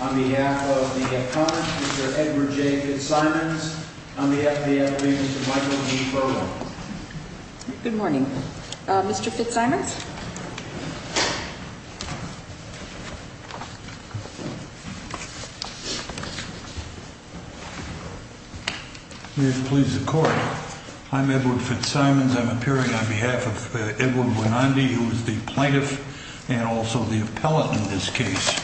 On behalf of the economist, Mr. Edward J. Fitzsimons. On behalf of the FBI, Mr. Michael Napoleon. Good morning, Mr. Fitzsimons. Please, the court. I'm Edward Fitzsimons. I'm appearing on behalf of Edward Bonandi, who is the plaintiff and also the appellate in this case.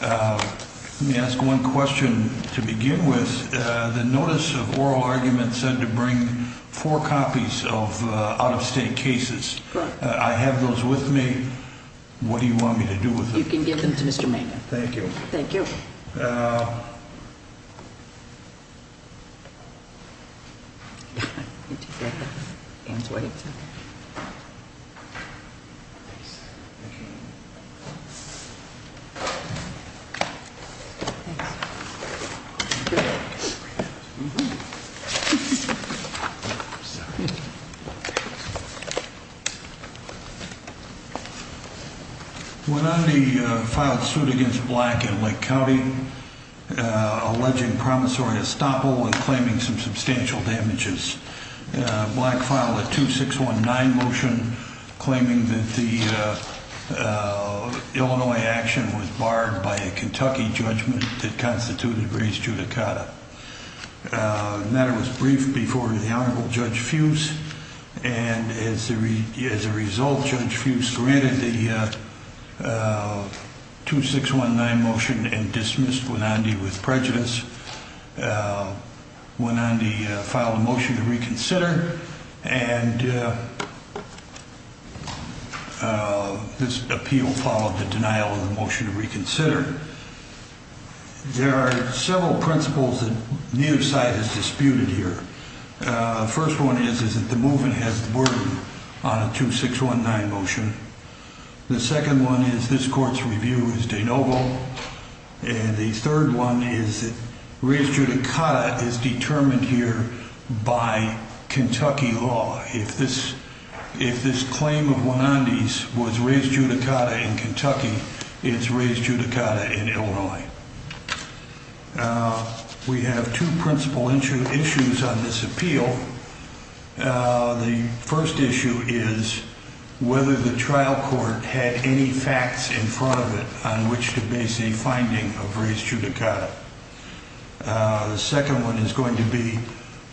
Let me ask one question to begin with. The notice of oral argument said to bring four copies of out-of-state cases. I have those with me. What do you want me to do with them? You can give them to Mr. Mangan. Thank you. Thank you. Mr. Bonandi filed suit against Black in Lake County, alleging promissory estoppel and claiming some substantial damages. Black filed a 2619 motion claiming that the Illinois action was barred by a Kentucky judgment that constituted race judicata. The matter was briefed before the Honorable Judge Fuse. And as a result, Judge Fuse granted the 2619 motion and dismissed Bonandi with prejudice. Judge Fuse went on to file a motion to reconsider, and this appeal followed the denial of the motion to reconsider. There are several principles that neither side has disputed here. First one is that the movement has the burden on a 2619 motion. The second one is this court's review is de novo. And the third one is race judicata is determined here by Kentucky law. If this if this claim of Bonandi's was race judicata in Kentucky, it's race judicata in Illinois. We have two principal issue issues on this appeal. The first issue is whether the trial court had any facts in front of it on which to base a finding of race judicata. The second one is going to be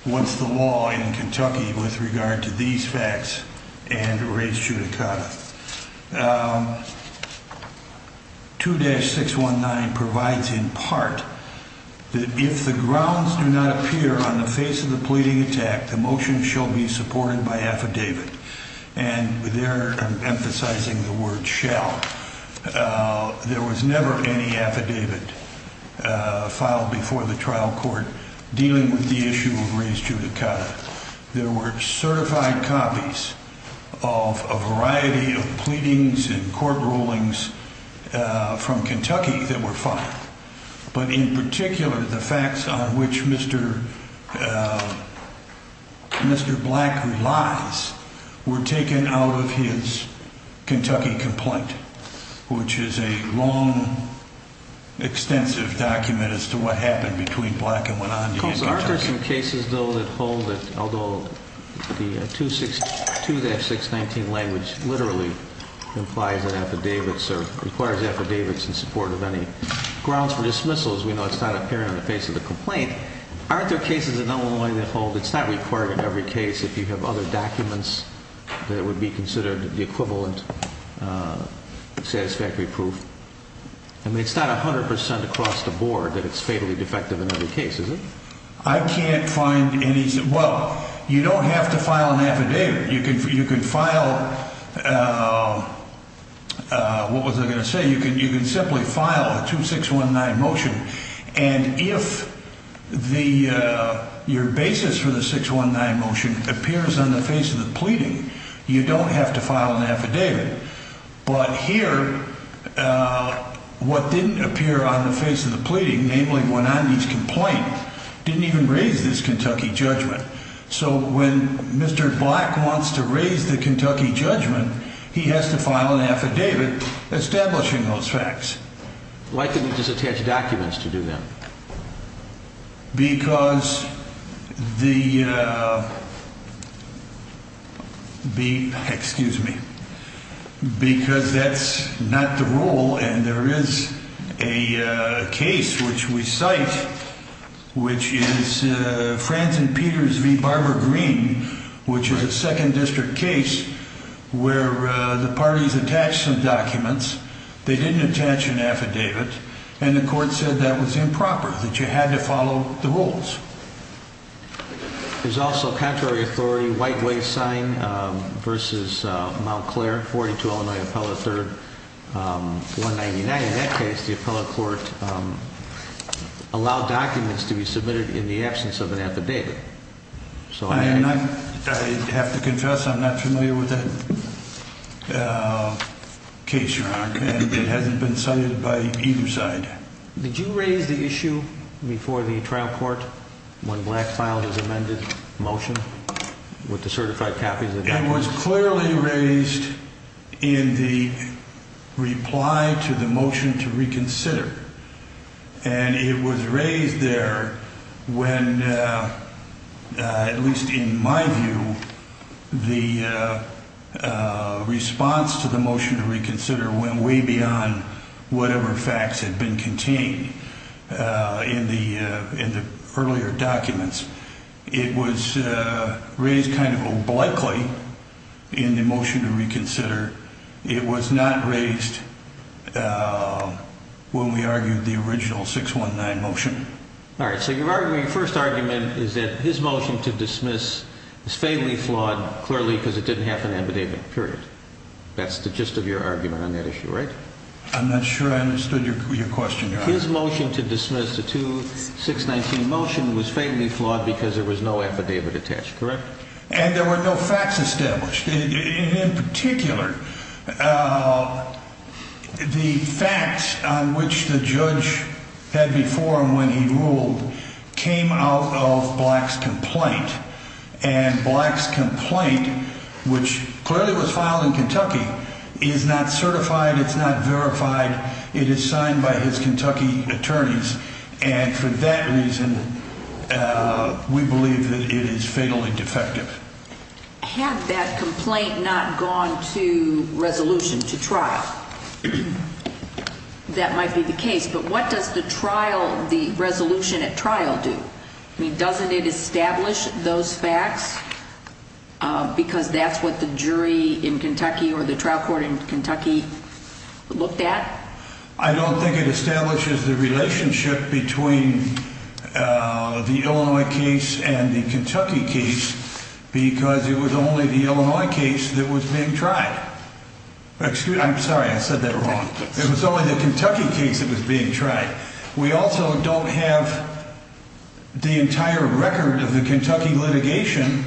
what's the law in Kentucky with regard to these facts and race judicata. 2-619 provides in part that if the grounds do not appear on the face of the pleading attack, the motion shall be supported by affidavit. And they're emphasizing the word shall. There was never any affidavit filed before the trial court dealing with the issue of race judicata. There were certified copies of a variety of pleadings and court rulings from Kentucky that were filed. But in particular, the facts on which Mr. Mr. Black relies were taken out of his Kentucky complaint, which is a long, extensive document as to what happened between Black and Bonandi. Are there some cases, though, that hold that although the 2-619 language literally implies an affidavit or requires affidavits in support of any grounds for dismissals, we know it's not appearing on the face of the complaint. Aren't there cases in Illinois that hold it's not required in every case if you have other documents that would be considered the equivalent satisfactory proof? I mean, it's not 100 percent across the board that it's fatally defective in every case, is it? I can't find any. Well, you don't have to file an affidavit. You can you can file. What was I going to say? You can you can simply file a 2-619 motion. And if the your basis for the 619 motion appears on the face of the pleading, you don't have to file an affidavit. But here, what didn't appear on the face of the pleading, namely Bonandi's complaint, didn't even raise this Kentucky judgment. So when Mr. Black wants to raise the Kentucky judgment, he has to file an affidavit establishing those facts. Why couldn't he just attach documents to do that? Because the. Excuse me, because that's not the rule. And there is a case which we cite, which is France and Peters v. Barbara Green, which is a second district case where the parties attach some documents. They didn't attach an affidavit. And the court said that was improper, that you had to follow the rules. There's also contrary authority. White Way sign versus Mount Claire 42, Illinois, Apollo 3199. In that case, the appellate court allowed documents to be submitted in the absence of an affidavit. So I have to confess I'm not familiar with that case. And it hasn't been cited by either side. Did you raise the issue before the trial court when Black filed his amended motion with the certified copies? It was clearly raised in the reply to the motion to reconsider. And it was raised there when, at least in my view, the response to the motion to reconsider went way beyond whatever facts had been contained in the earlier documents. It was raised kind of obliquely in the motion to reconsider. It was not raised when we argued the original 619 motion. All right. So your first argument is that his motion to dismiss is faintly flawed, clearly because it didn't have an affidavit, period. That's the gist of your argument on that issue, right? I'm not sure I understood your question. His motion to dismiss the 2619 motion was faintly flawed because there was no affidavit attached, correct? And there were no facts established. In particular, the facts on which the judge had before him when he ruled came out of Black's complaint. And Black's complaint, which clearly was filed in Kentucky, is not certified. It's not verified. It is signed by his Kentucky attorneys. And for that reason, we believe that it is fatally defective. Had that complaint not gone to resolution, to trial, that might be the case. But what does the trial, the resolution at trial do? I mean, doesn't it establish those facts because that's what the jury in Kentucky or the trial court in Kentucky looked at? I don't think it establishes the relationship between the Illinois case and the Kentucky case because it was only the Illinois case that was being tried. I'm sorry, I said that wrong. It was only the Kentucky case that was being tried. We also don't have the entire record of the Kentucky litigation.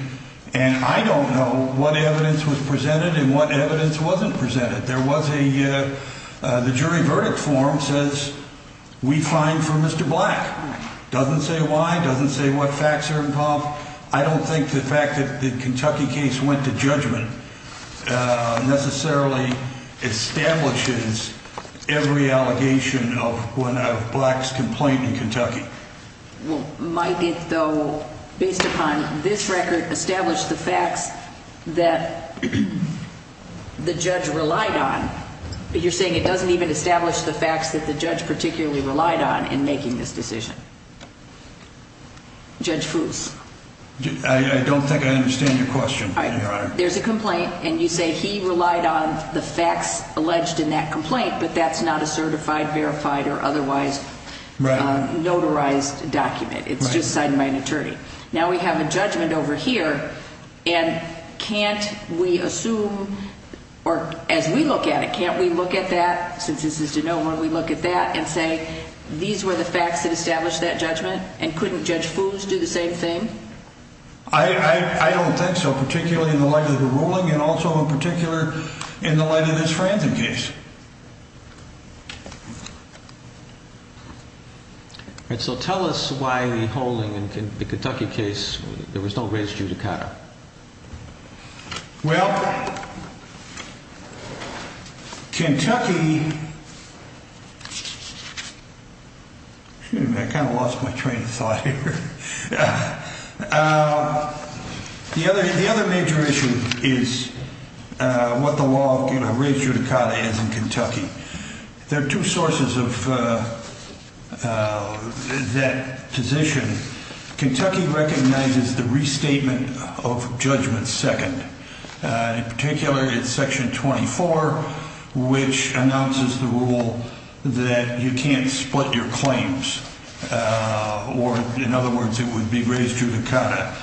And I don't know what evidence was presented and what evidence wasn't presented. The jury verdict form says we find for Mr. Black. It doesn't say why. It doesn't say what facts are involved. I don't think the fact that the Kentucky case went to judgment necessarily establishes every allegation of Black's complaint in Kentucky. Well, might it, though, based upon this record, establish the facts that the judge relied on? You're saying it doesn't even establish the facts that the judge particularly relied on in making this decision? Judge Foose? I don't think I understand your question, Your Honor. There's a complaint, and you say he relied on the facts alleged in that complaint, but that's not a certified, verified, or otherwise notarized document. It's just signed by an attorney. Now we have a judgment over here, and can't we assume, or as we look at it, can't we look at that, since this is to no one, we look at that and say these were the facts that established that judgment? And couldn't Judge Foose do the same thing? I don't think so, particularly in the light of the ruling and also in particular in the light of this Franzen case. So tell us why the holding in the Kentucky case, there was no race judicata. Well, Kentucky... I kind of lost my train of thought here. The other major issue is what the law, race judicata is in Kentucky. There are two sources of that position. Kentucky recognizes the restatement of judgment second. In particular, it's Section 24, which announces the rule that you can't split your claims, or in other words, it would be race judicata.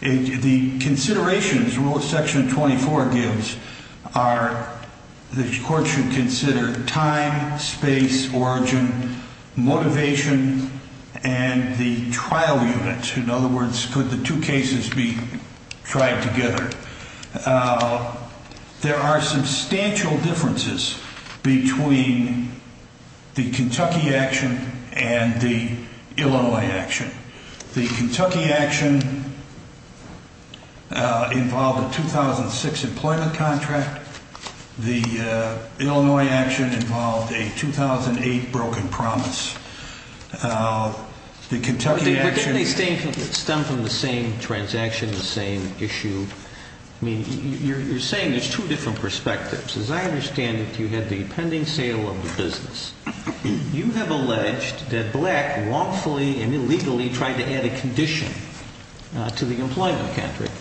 The considerations Section 24 gives are the court should consider time, space, origin, motivation, and the trial unit. In other words, could the two cases be tried together? There are substantial differences between the Kentucky action and the Illinois action. The Kentucky action involved a 2006 employment contract. The Illinois action involved a 2008 broken promise. But didn't they stem from the same transaction, the same issue? I mean, you're saying there's two different perspectives. As I understand it, you had the pending sale of the business. You have alleged that Black wrongfully and illegally tried to add a condition to the employment contract.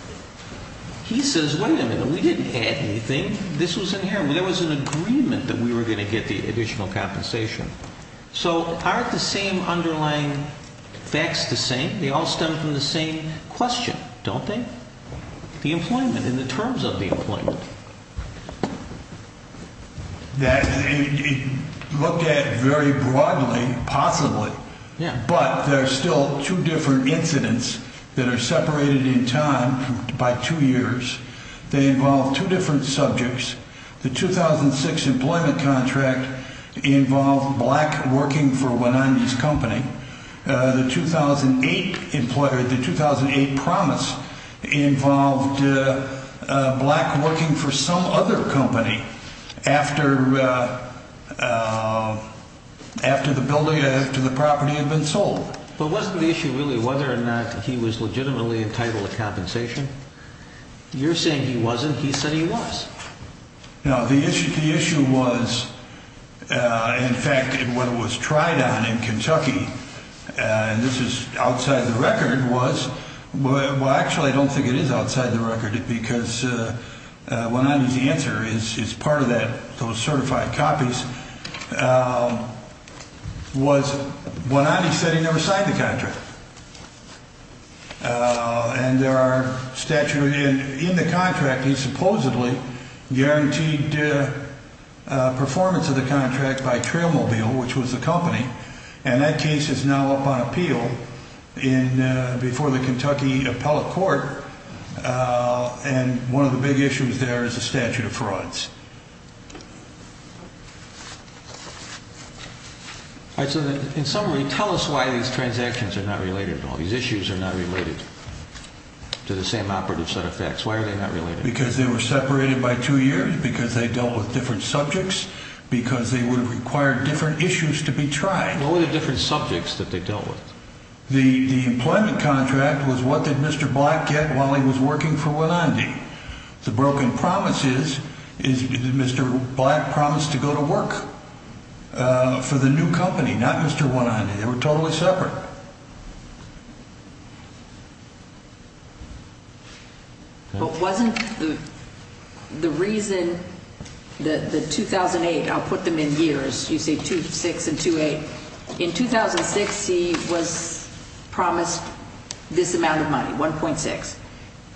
He says, wait a minute, we didn't add anything. This was inherent. There was an agreement that we were going to get the additional compensation. So aren't the same underlying facts the same? They all stem from the same question, don't they? The employment and the terms of the employment. That looked at very broadly, possibly. Yeah. But there are still two different incidents that are separated in time by two years. They involve two different subjects. The 2006 employment contract involved Black working for Wenanya's company. The 2008 promise involved Black working for some other company after the property had been sold. But wasn't the issue really whether or not he was legitimately entitled to compensation? You're saying he wasn't. He said he was. Now, the issue was, in fact, what was tried on in Kentucky, and this is outside the record, was, well, actually, I don't think it is outside the record. Because Wenanya's answer is part of that. Those certified copies was Wenanya said he never signed the contract. And there are statutes in the contract that supposedly guaranteed performance of the contract by Trailmobile, which was the company. And that case is now up on appeal before the Kentucky appellate court. And one of the big issues there is the statute of frauds. All right. So in summary, tell us why these transactions are not related. All these issues are not related to the same operative set of facts. Why are they not related? Because they were separated by two years, because they dealt with different subjects, because they would have required different issues to be tried. What were the different subjects that they dealt with? The employment contract was what did Mr. Black get while he was working for Wenandy? The broken promises is Mr. Black promised to go to work for the new company, not Mr. Wenandy. They were totally separate. But wasn't the reason that the 2008, I'll put them in years, you say 2006 and 2008. In 2006, he was promised this amount of money, 1.6.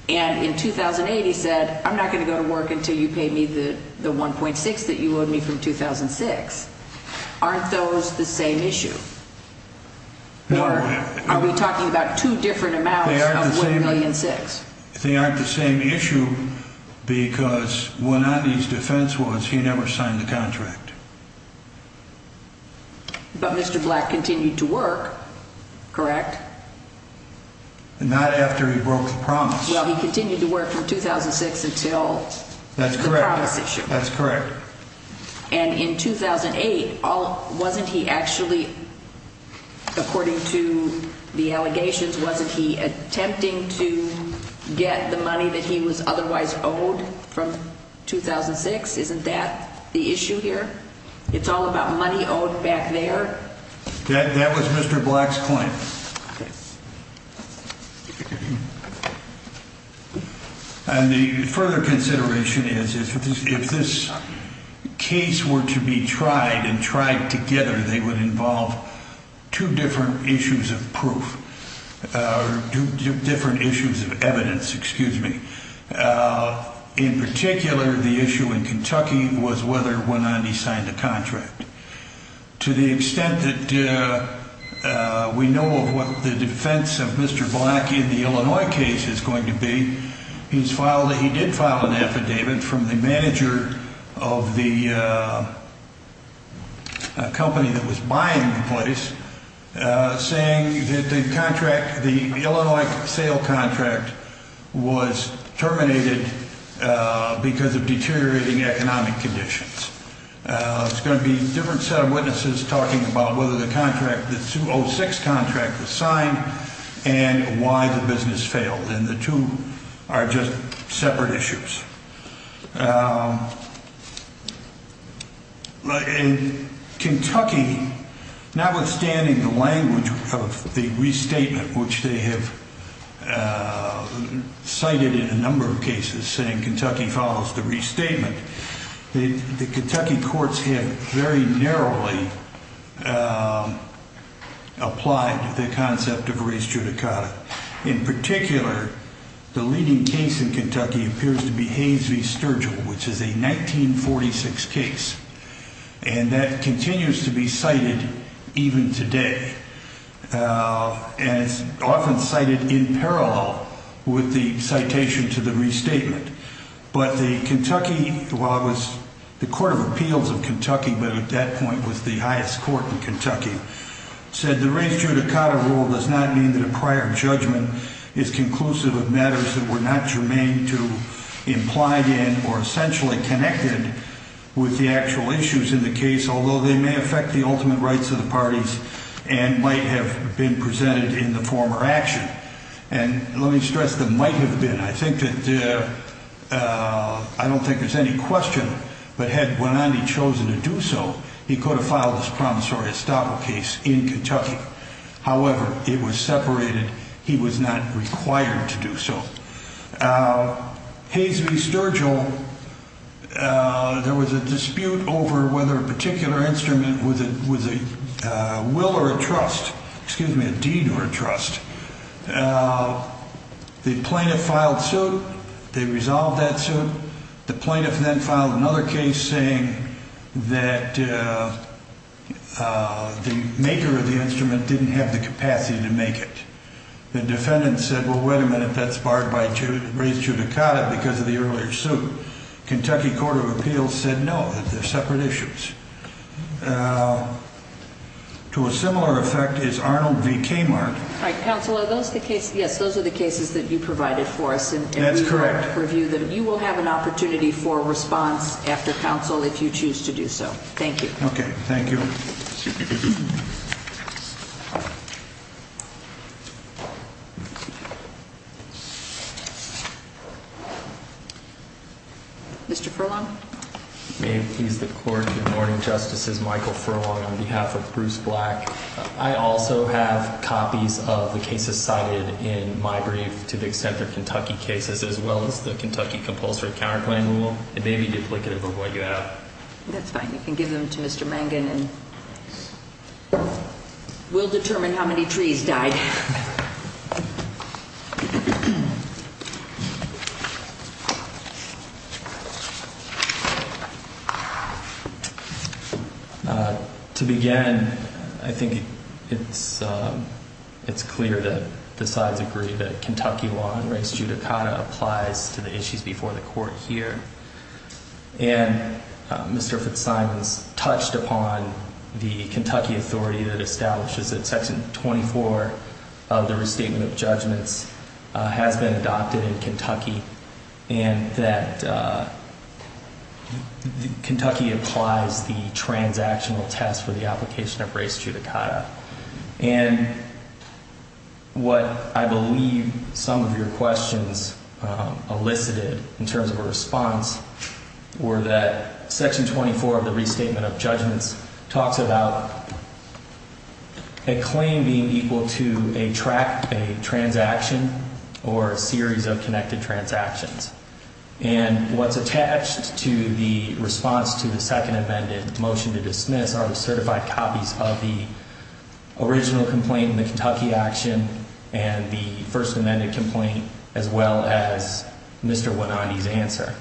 And in 2008, he said, I'm not going to go to work until you pay me the 1.6 that you owed me from 2006. Aren't those the same issue? Are we talking about two different amounts of 1.6 million? They aren't the same issue because Wenandy's defense was he never signed the contract. But Mr. Black continued to work, correct? Not after he broke the promise. Well, he continued to work from 2006 until the promise issue. That's correct. And in 2008, wasn't he actually, according to the allegations, wasn't he attempting to get the money that he was otherwise owed from 2006? Isn't that the issue here? It's all about money owed back there. That was Mr. Black's claim. And the further consideration is if this case were to be tried and tried together, they would involve two different issues of proof, two different issues of evidence, excuse me. In particular, the issue in Kentucky was whether Wenandy signed the contract. To the extent that we know what the defense of Mr. Black in the Illinois case is going to be, he did file an affidavit from the manager of the company that was buying the place saying that the contract, the Illinois sale contract was terminated because of deteriorating economic conditions. It's going to be a different set of witnesses talking about whether the contract, the 2006 contract was signed and why the business failed. And the two are just separate issues. In Kentucky, notwithstanding the language of the restatement, which they have cited in a number of cases saying Kentucky follows the restatement, the Kentucky courts have very narrowly applied the concept of res judicata. In particular, the leading case in Kentucky appears to be Hayes v. Sturgill, which is a 1946 case, and that continues to be cited even today. And it's often cited in parallel with the citation to the restatement. But the Kentucky, while it was the Court of Appeals of Kentucky, but at that point was the highest court in Kentucky, said the res judicata rule does not mean that a prior judgment is conclusive of matters that were not germane to implied in or essentially connected with the actual issues in the case, although they may affect the ultimate rights of the parties and might have been presented in the former action. And let me stress the might have been. I think that I don't think there's any question. But had Bonanni chosen to do so, he could have filed this promissory estoppel case in Kentucky. However, it was separated. He was not required to do so. Hayes v. Sturgill, there was a dispute over whether a particular instrument was a will or a trust, excuse me, a deed or a trust. The plaintiff filed suit. They resolved that suit. The plaintiff then filed another case saying that the maker of the instrument didn't have the capacity to make it. The defendant said, well, wait a minute, that's barred by res judicata because of the earlier suit. Kentucky Court of Appeals said no. They're separate issues. To a similar effect is Arnold v. Kmart. All right, counsel. Are those the case? Yes, those are the cases that you provided for us. And that's correct. Review that you will have an opportunity for response after counsel if you choose to do so. Thank you. OK, thank you. Thank you. Mr. Furlong. May it please the Court, good morning. Justice is Michael Furlong on behalf of Bruce Black. I also have copies of the cases cited in my brief to the extent of Kentucky cases as well as the Kentucky compulsory counterclaim rule. It may be duplicative of what you have. That's fine. You can give them to Mr. Mangan and we'll determine how many trees died. To begin, I think it's clear that the sides agree that Kentucky law and res judicata applies to the issues before the court here. And Mr. Fitzsimons touched upon the Kentucky authority that establishes that section 24 of the restatement of judgments has been adopted in Kentucky. And that Kentucky applies the transactional test for the application of res judicata. And what I believe some of your questions elicited in terms of a response were that section 24 of the restatement of judgments talks about a claim being equal to a track, a transaction, or a series of connected transactions. And what's attached to the response to the second amended motion to dismiss are the certified copies of the original complaint in the Kentucky action and the first amended complaint as well as Mr. Wanani's answer.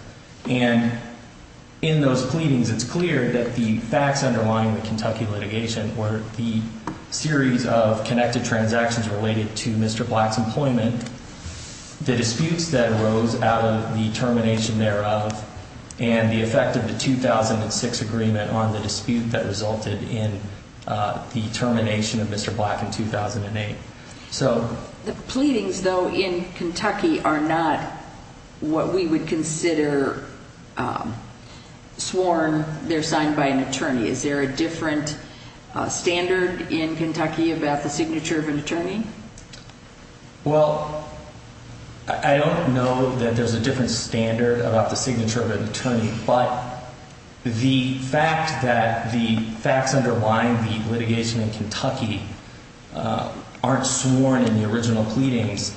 And in those pleadings, it's clear that the facts underlying the Kentucky litigation were the series of connected transactions related to Mr. Black's employment. The disputes that arose out of the termination thereof and the effect of the 2006 agreement on the dispute that resulted in the termination of Mr. Black in 2008. So the pleadings, though, in Kentucky are not what we would consider sworn. They're signed by an attorney. Is there a different standard in Kentucky about the signature of an attorney? Well, I don't know that there's a different standard about the signature of an attorney, but the fact that the facts underlying the litigation in Kentucky aren't sworn in the original pleadings,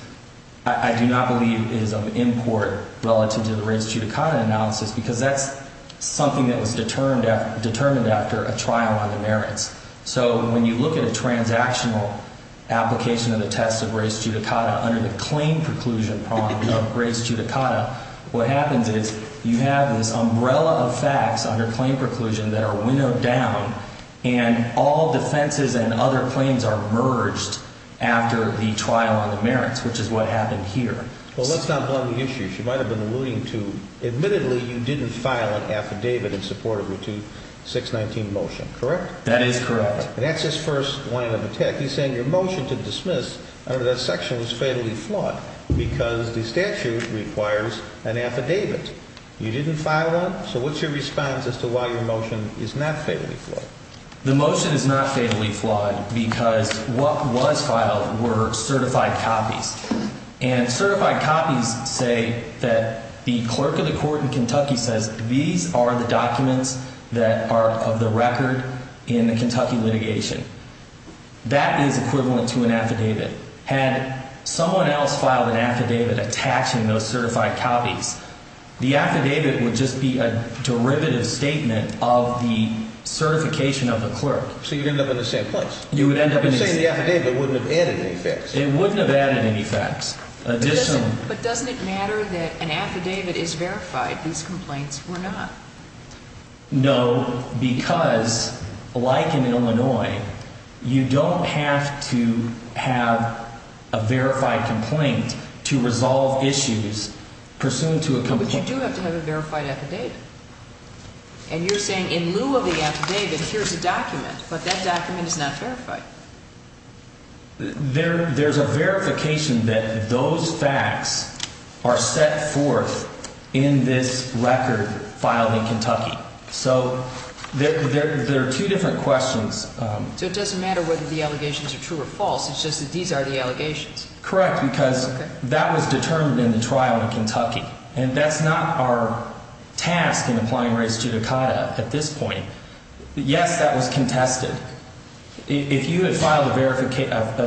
I do not believe is of import relative to the res judicata analysis because that's something that was determined after a trial on the merits. So when you look at a transactional application of the test of res judicata under the claim preclusion of res judicata, what happens is you have this umbrella of facts under claim preclusion that are winnowed down and all defenses and other claims are merged after the trial on the merits, which is what happened here. Well, that's not one of the issues you might have been alluding to. Admittedly, you didn't file an affidavit in support of routine 619 motion, correct? That is correct. And that's his first line of attack. He's saying your motion to dismiss under that section was fatally flawed because the statute requires an affidavit. You didn't file one. So what's your response as to why your motion is not fatally flawed? The motion is not fatally flawed because what was filed were certified copies. And certified copies say that the clerk of the court in Kentucky says these are the documents that are of the record in the Kentucky litigation. That is equivalent to an affidavit. Had someone else filed an affidavit attaching those certified copies, the affidavit would just be a derivative statement of the certification of the clerk. So you'd end up in the same place. You would end up in the same place. I'm saying the affidavit wouldn't have added any fix. It wouldn't have added any fix. But doesn't it matter that an affidavit is verified? These complaints were not. No, because like in Illinois, you don't have to have a verified complaint to resolve issues pursuant to a complaint. But you do have to have a verified affidavit. And you're saying in lieu of the affidavit, here's a document, but that document is not verified. There's a verification that those facts are set forth in this record filed in Kentucky. So there are two different questions. So it doesn't matter whether the allegations are true or false. It's just that these are the allegations. Correct, because that was determined in the trial in Kentucky. And that's not our task in applying race judicata at this point. Yes, that was contested. If you had filed a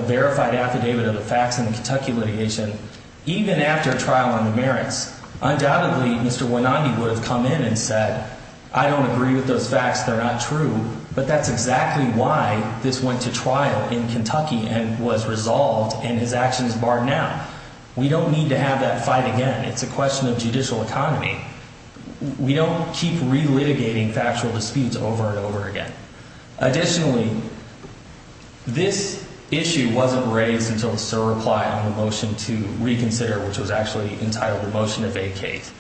verified affidavit of the facts in the Kentucky litigation, even after trial on the merits, undoubtedly Mr. Wynandi would have come in and said, I don't agree with those facts. They're not true. But that's exactly why this went to trial in Kentucky and was resolved and his actions barred now. We don't need to have that fight again. It's a question of judicial economy. We don't keep re-litigating factual disputes over and over again. Additionally, this issue wasn't raised until Sir replied on the motion to reconsider, which was actually entitled the motion of vacate.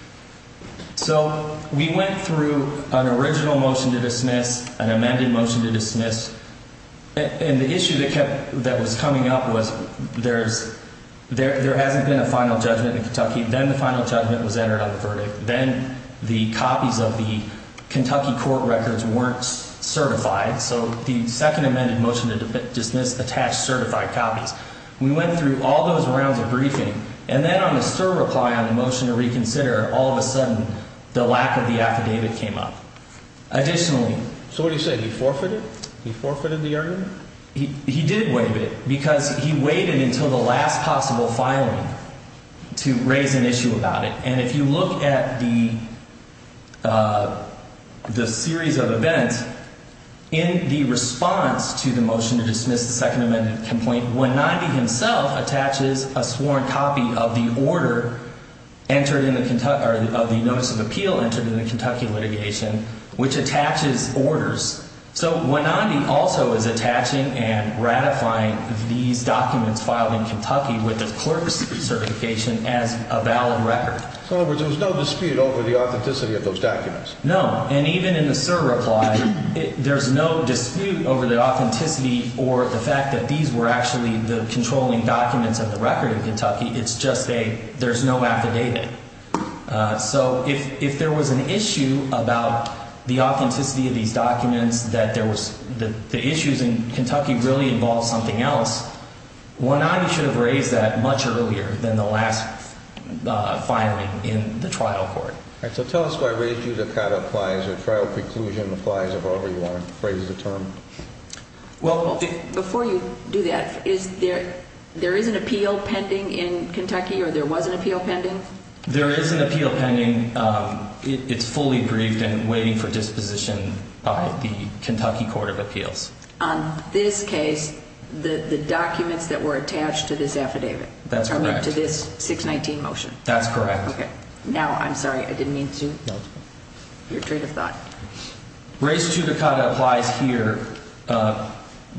So we went through an original motion to dismiss, an amended motion to dismiss. And the issue that kept that was coming up was there's there hasn't been a final judgment in Kentucky. Then the final judgment was entered on the verdict. Then the copies of the Kentucky court records weren't certified. So the second amended motion to dismiss attached certified copies. We went through all those rounds of briefing. And then on the Sir reply on the motion to reconsider, all of a sudden the lack of the affidavit came up. Additionally. So what do you say? He forfeited? He forfeited the argument? He did waive it because he waited until the last possible filing to raise an issue about it. And if you look at the the series of events in the response to the motion to dismiss the second amended complaint, when 90 himself attaches a sworn copy of the order entered in the of the notice of appeal entered in the Kentucky litigation, which attaches orders. So when Andy also is attaching and ratifying these documents filed in Kentucky with the clerk's certification as a valid record, so there was no dispute over the authenticity of those documents. No. And even in the Sir reply, there's no dispute over the authenticity or the fact that these were actually the controlling documents of the record in Kentucky. It's just a there's no affidavit. So if if there was an issue about the authenticity of these documents, that there was the issues in Kentucky really involves something else. Well, now you should have raised that much earlier than the last firing in the trial court. So tell us why we do the kind of flies or trial preclusion applies of over. You want to phrase the term? Well, before you do that, is there there is an appeal pending in Kentucky or there was an appeal pending? There is an appeal pending. It's fully briefed and waiting for disposition by the Kentucky Court of Appeals. On this case, the documents that were attached to this affidavit. That's right. To this 619 motion. That's correct. OK, now I'm sorry. I didn't mean to. Your trade of thought. Race to the cut applies here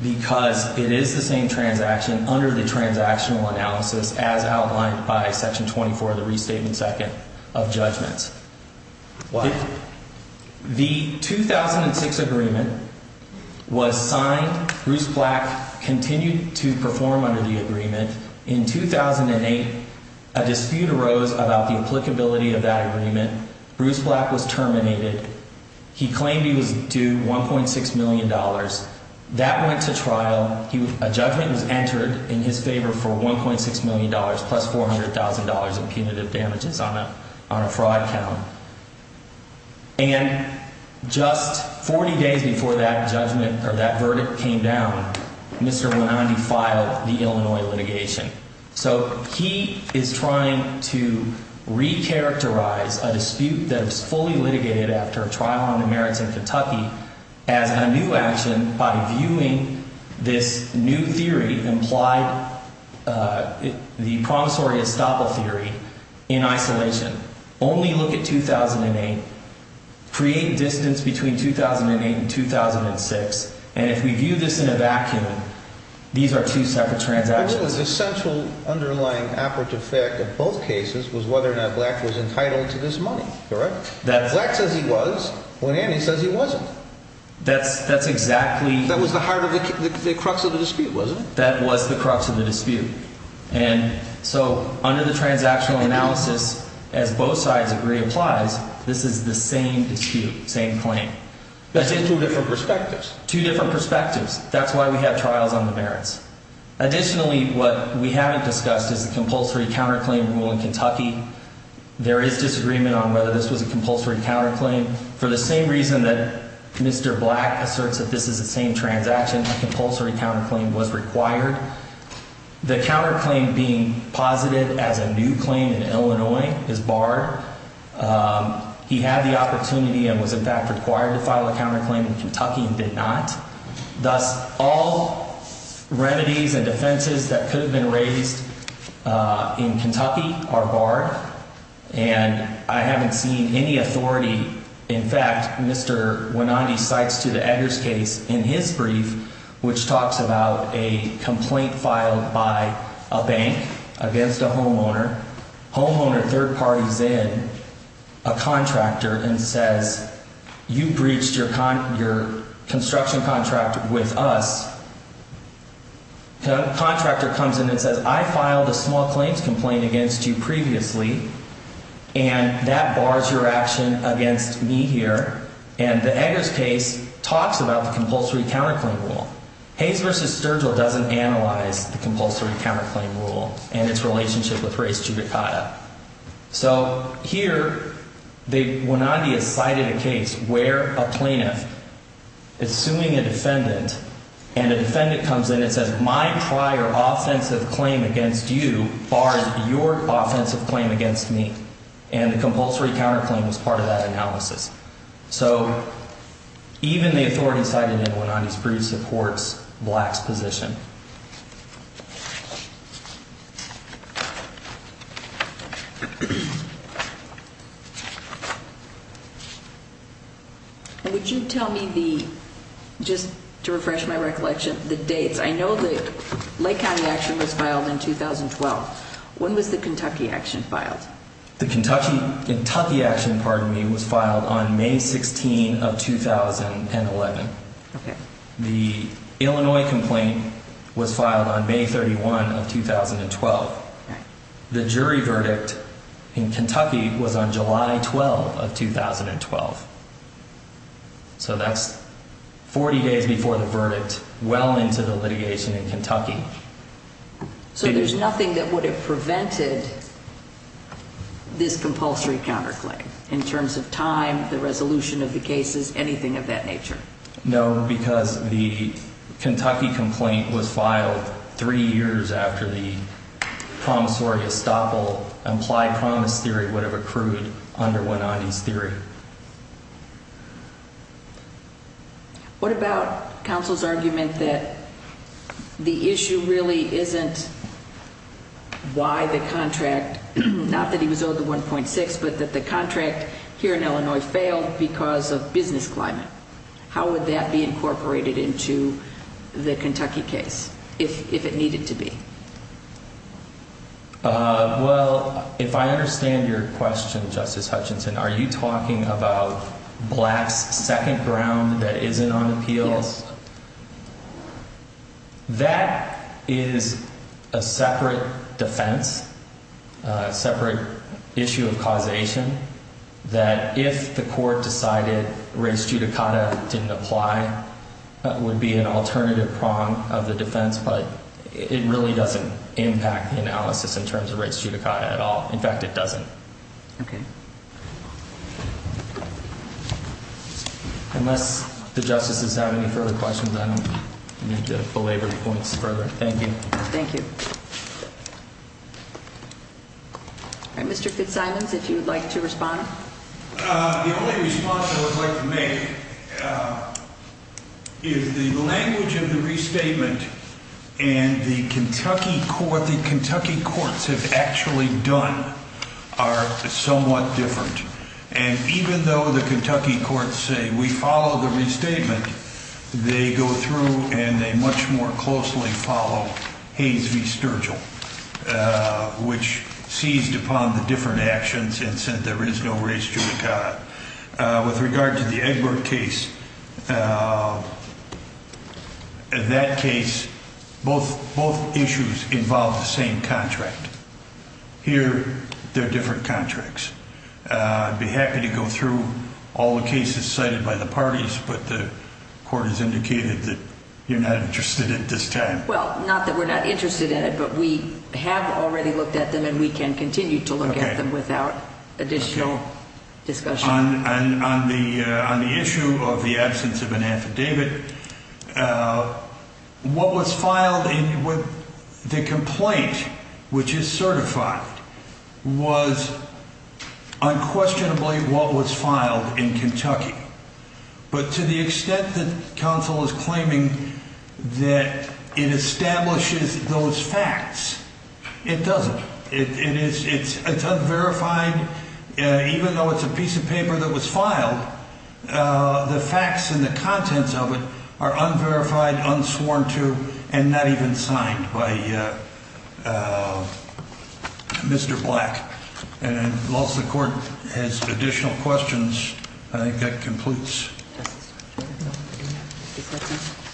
because it is the same transaction under the transactional analysis as outlined by Section 24 of the restatement. Second of judgments. Why? The 2006 agreement was signed. Bruce Black continued to perform under the agreement in 2008. A dispute arose about the applicability of that agreement. Bruce Black was terminated. He claimed he was due one point six million dollars. That went to trial. A judgment was entered in his favor for one point six million dollars, plus four hundred thousand dollars in punitive damages on a on a fraud count. And just 40 days before that judgment or that verdict came down, Mr. The Illinois litigation. So he is trying to recharacterize a dispute that was fully litigated after a trial on the merits of Kentucky as a new action. By viewing this new theory implied the promissory estoppel theory in isolation. Only look at 2008. Create distance between 2008 and 2006. And if we view this in a vacuum, these are two separate transactions. The central underlying apert effect of both cases was whether or not Black was entitled to this money. Correct? Black says he was. When Andy says he wasn't. That's that's exactly. That was the heart of the crux of the dispute, wasn't it? That was the crux of the dispute. And so under the transactional analysis, as both sides agree applies, this is the same dispute, same claim. That's in two different perspectives, two different perspectives. That's why we have trials on the merits. Additionally, what we haven't discussed is the compulsory counterclaim rule in Kentucky. There is disagreement on whether this was a compulsory counterclaim for the same reason that Mr. Black asserts that this is the same transaction. Compulsory counterclaim was required. The counterclaim being positive as a new claim in Illinois is barred. He had the opportunity and was, in fact, required to file a counterclaim in Kentucky and did not. Thus, all remedies and defenses that could have been raised in Kentucky are barred. And I haven't seen any authority. In fact, Mr. Wenanti cites to the Eggers case in his brief, which talks about a complaint filed by a bank against a homeowner. Homeowner third parties in a contractor and says, you breached your your construction contract with us. Contractor comes in and says, I filed a small claims complaint against you previously, and that bars your action against me here. And the Eggers case talks about the compulsory counterclaim rule. Hayes v. Sturgill doesn't analyze the compulsory counterclaim rule and its relationship with race judicata. So here, the Wenanti has cited a case where a plaintiff, assuming a defendant, and a defendant comes in and says, my prior offensive claim against you bars your offensive claim against me. And the compulsory counterclaim is part of that analysis. So even the authority cited in Wenanti's brief supports Black's position. Would you tell me the just to refresh my recollection, the dates? I know the Lake County action was filed in 2012. When was the Kentucky action filed? The Kentucky action, pardon me, was filed on May 16 of 2011. The Illinois complaint was filed on May 31 of 2012. The jury verdict in Kentucky was on July 12 of 2012. So that's 40 days before the verdict, well into the litigation in Kentucky. So there's nothing that would have prevented this compulsory counterclaim in terms of time, the resolution of the cases, anything of that nature? No, because the Kentucky complaint was filed three years after the promissory estoppel, implied promise theory would have accrued under Wenanti's theory. What about counsel's argument that the issue really isn't why the contract, not that he was owed the 1.6, but that the contract here in Illinois failed because of business climate? How would that be incorporated into the Kentucky case if it needed to be? Well, if I understand your question, Justice Hutchinson, are you talking about blacks second ground that isn't on appeals? That is a separate defense, a separate issue of causation, that if the court decided race judicata didn't apply, that would be an alternative prong of the defense. But it really doesn't impact the analysis in terms of race judicata at all. In fact, it doesn't. Okay. Unless the justices have any further questions, I don't need to belabor the points further. Thank you. Thank you. Mr. Fitzsimons, if you would like to respond. The only response I would like to make is the language of the restatement and the Kentucky court, the Kentucky courts have actually done are somewhat different. And even though the Kentucky courts say we follow the restatement, they go through and they much more closely follow Hayes v. Sturgill, which seized upon the different actions and said there is no race judicata. With regard to the Egbert case, that case, both issues involved the same contract. Here, they're different contracts. I'd be happy to go through all the cases cited by the parties, but the court has indicated that you're not interested at this time. Well, not that we're not interested in it, but we have already looked at them and we can continue to look at them without additional discussion. On the issue of the absence of an affidavit, what was filed in the complaint, which is certified, was unquestionably what was filed in Kentucky. But to the extent that counsel is claiming that it establishes those facts, it doesn't. It's unverified, even though it's a piece of paper that was filed, the facts and the contents of it are unverified, unsworn to, and not even signed by Mr. Black. And unless the court has additional questions, I think that completes.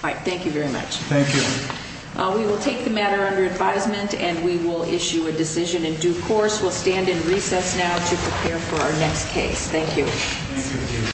All right. Thank you very much. Thank you. We will take the matter under advisement and we will issue a decision in due course. We'll stand in recess now to prepare for our next case. Thank you.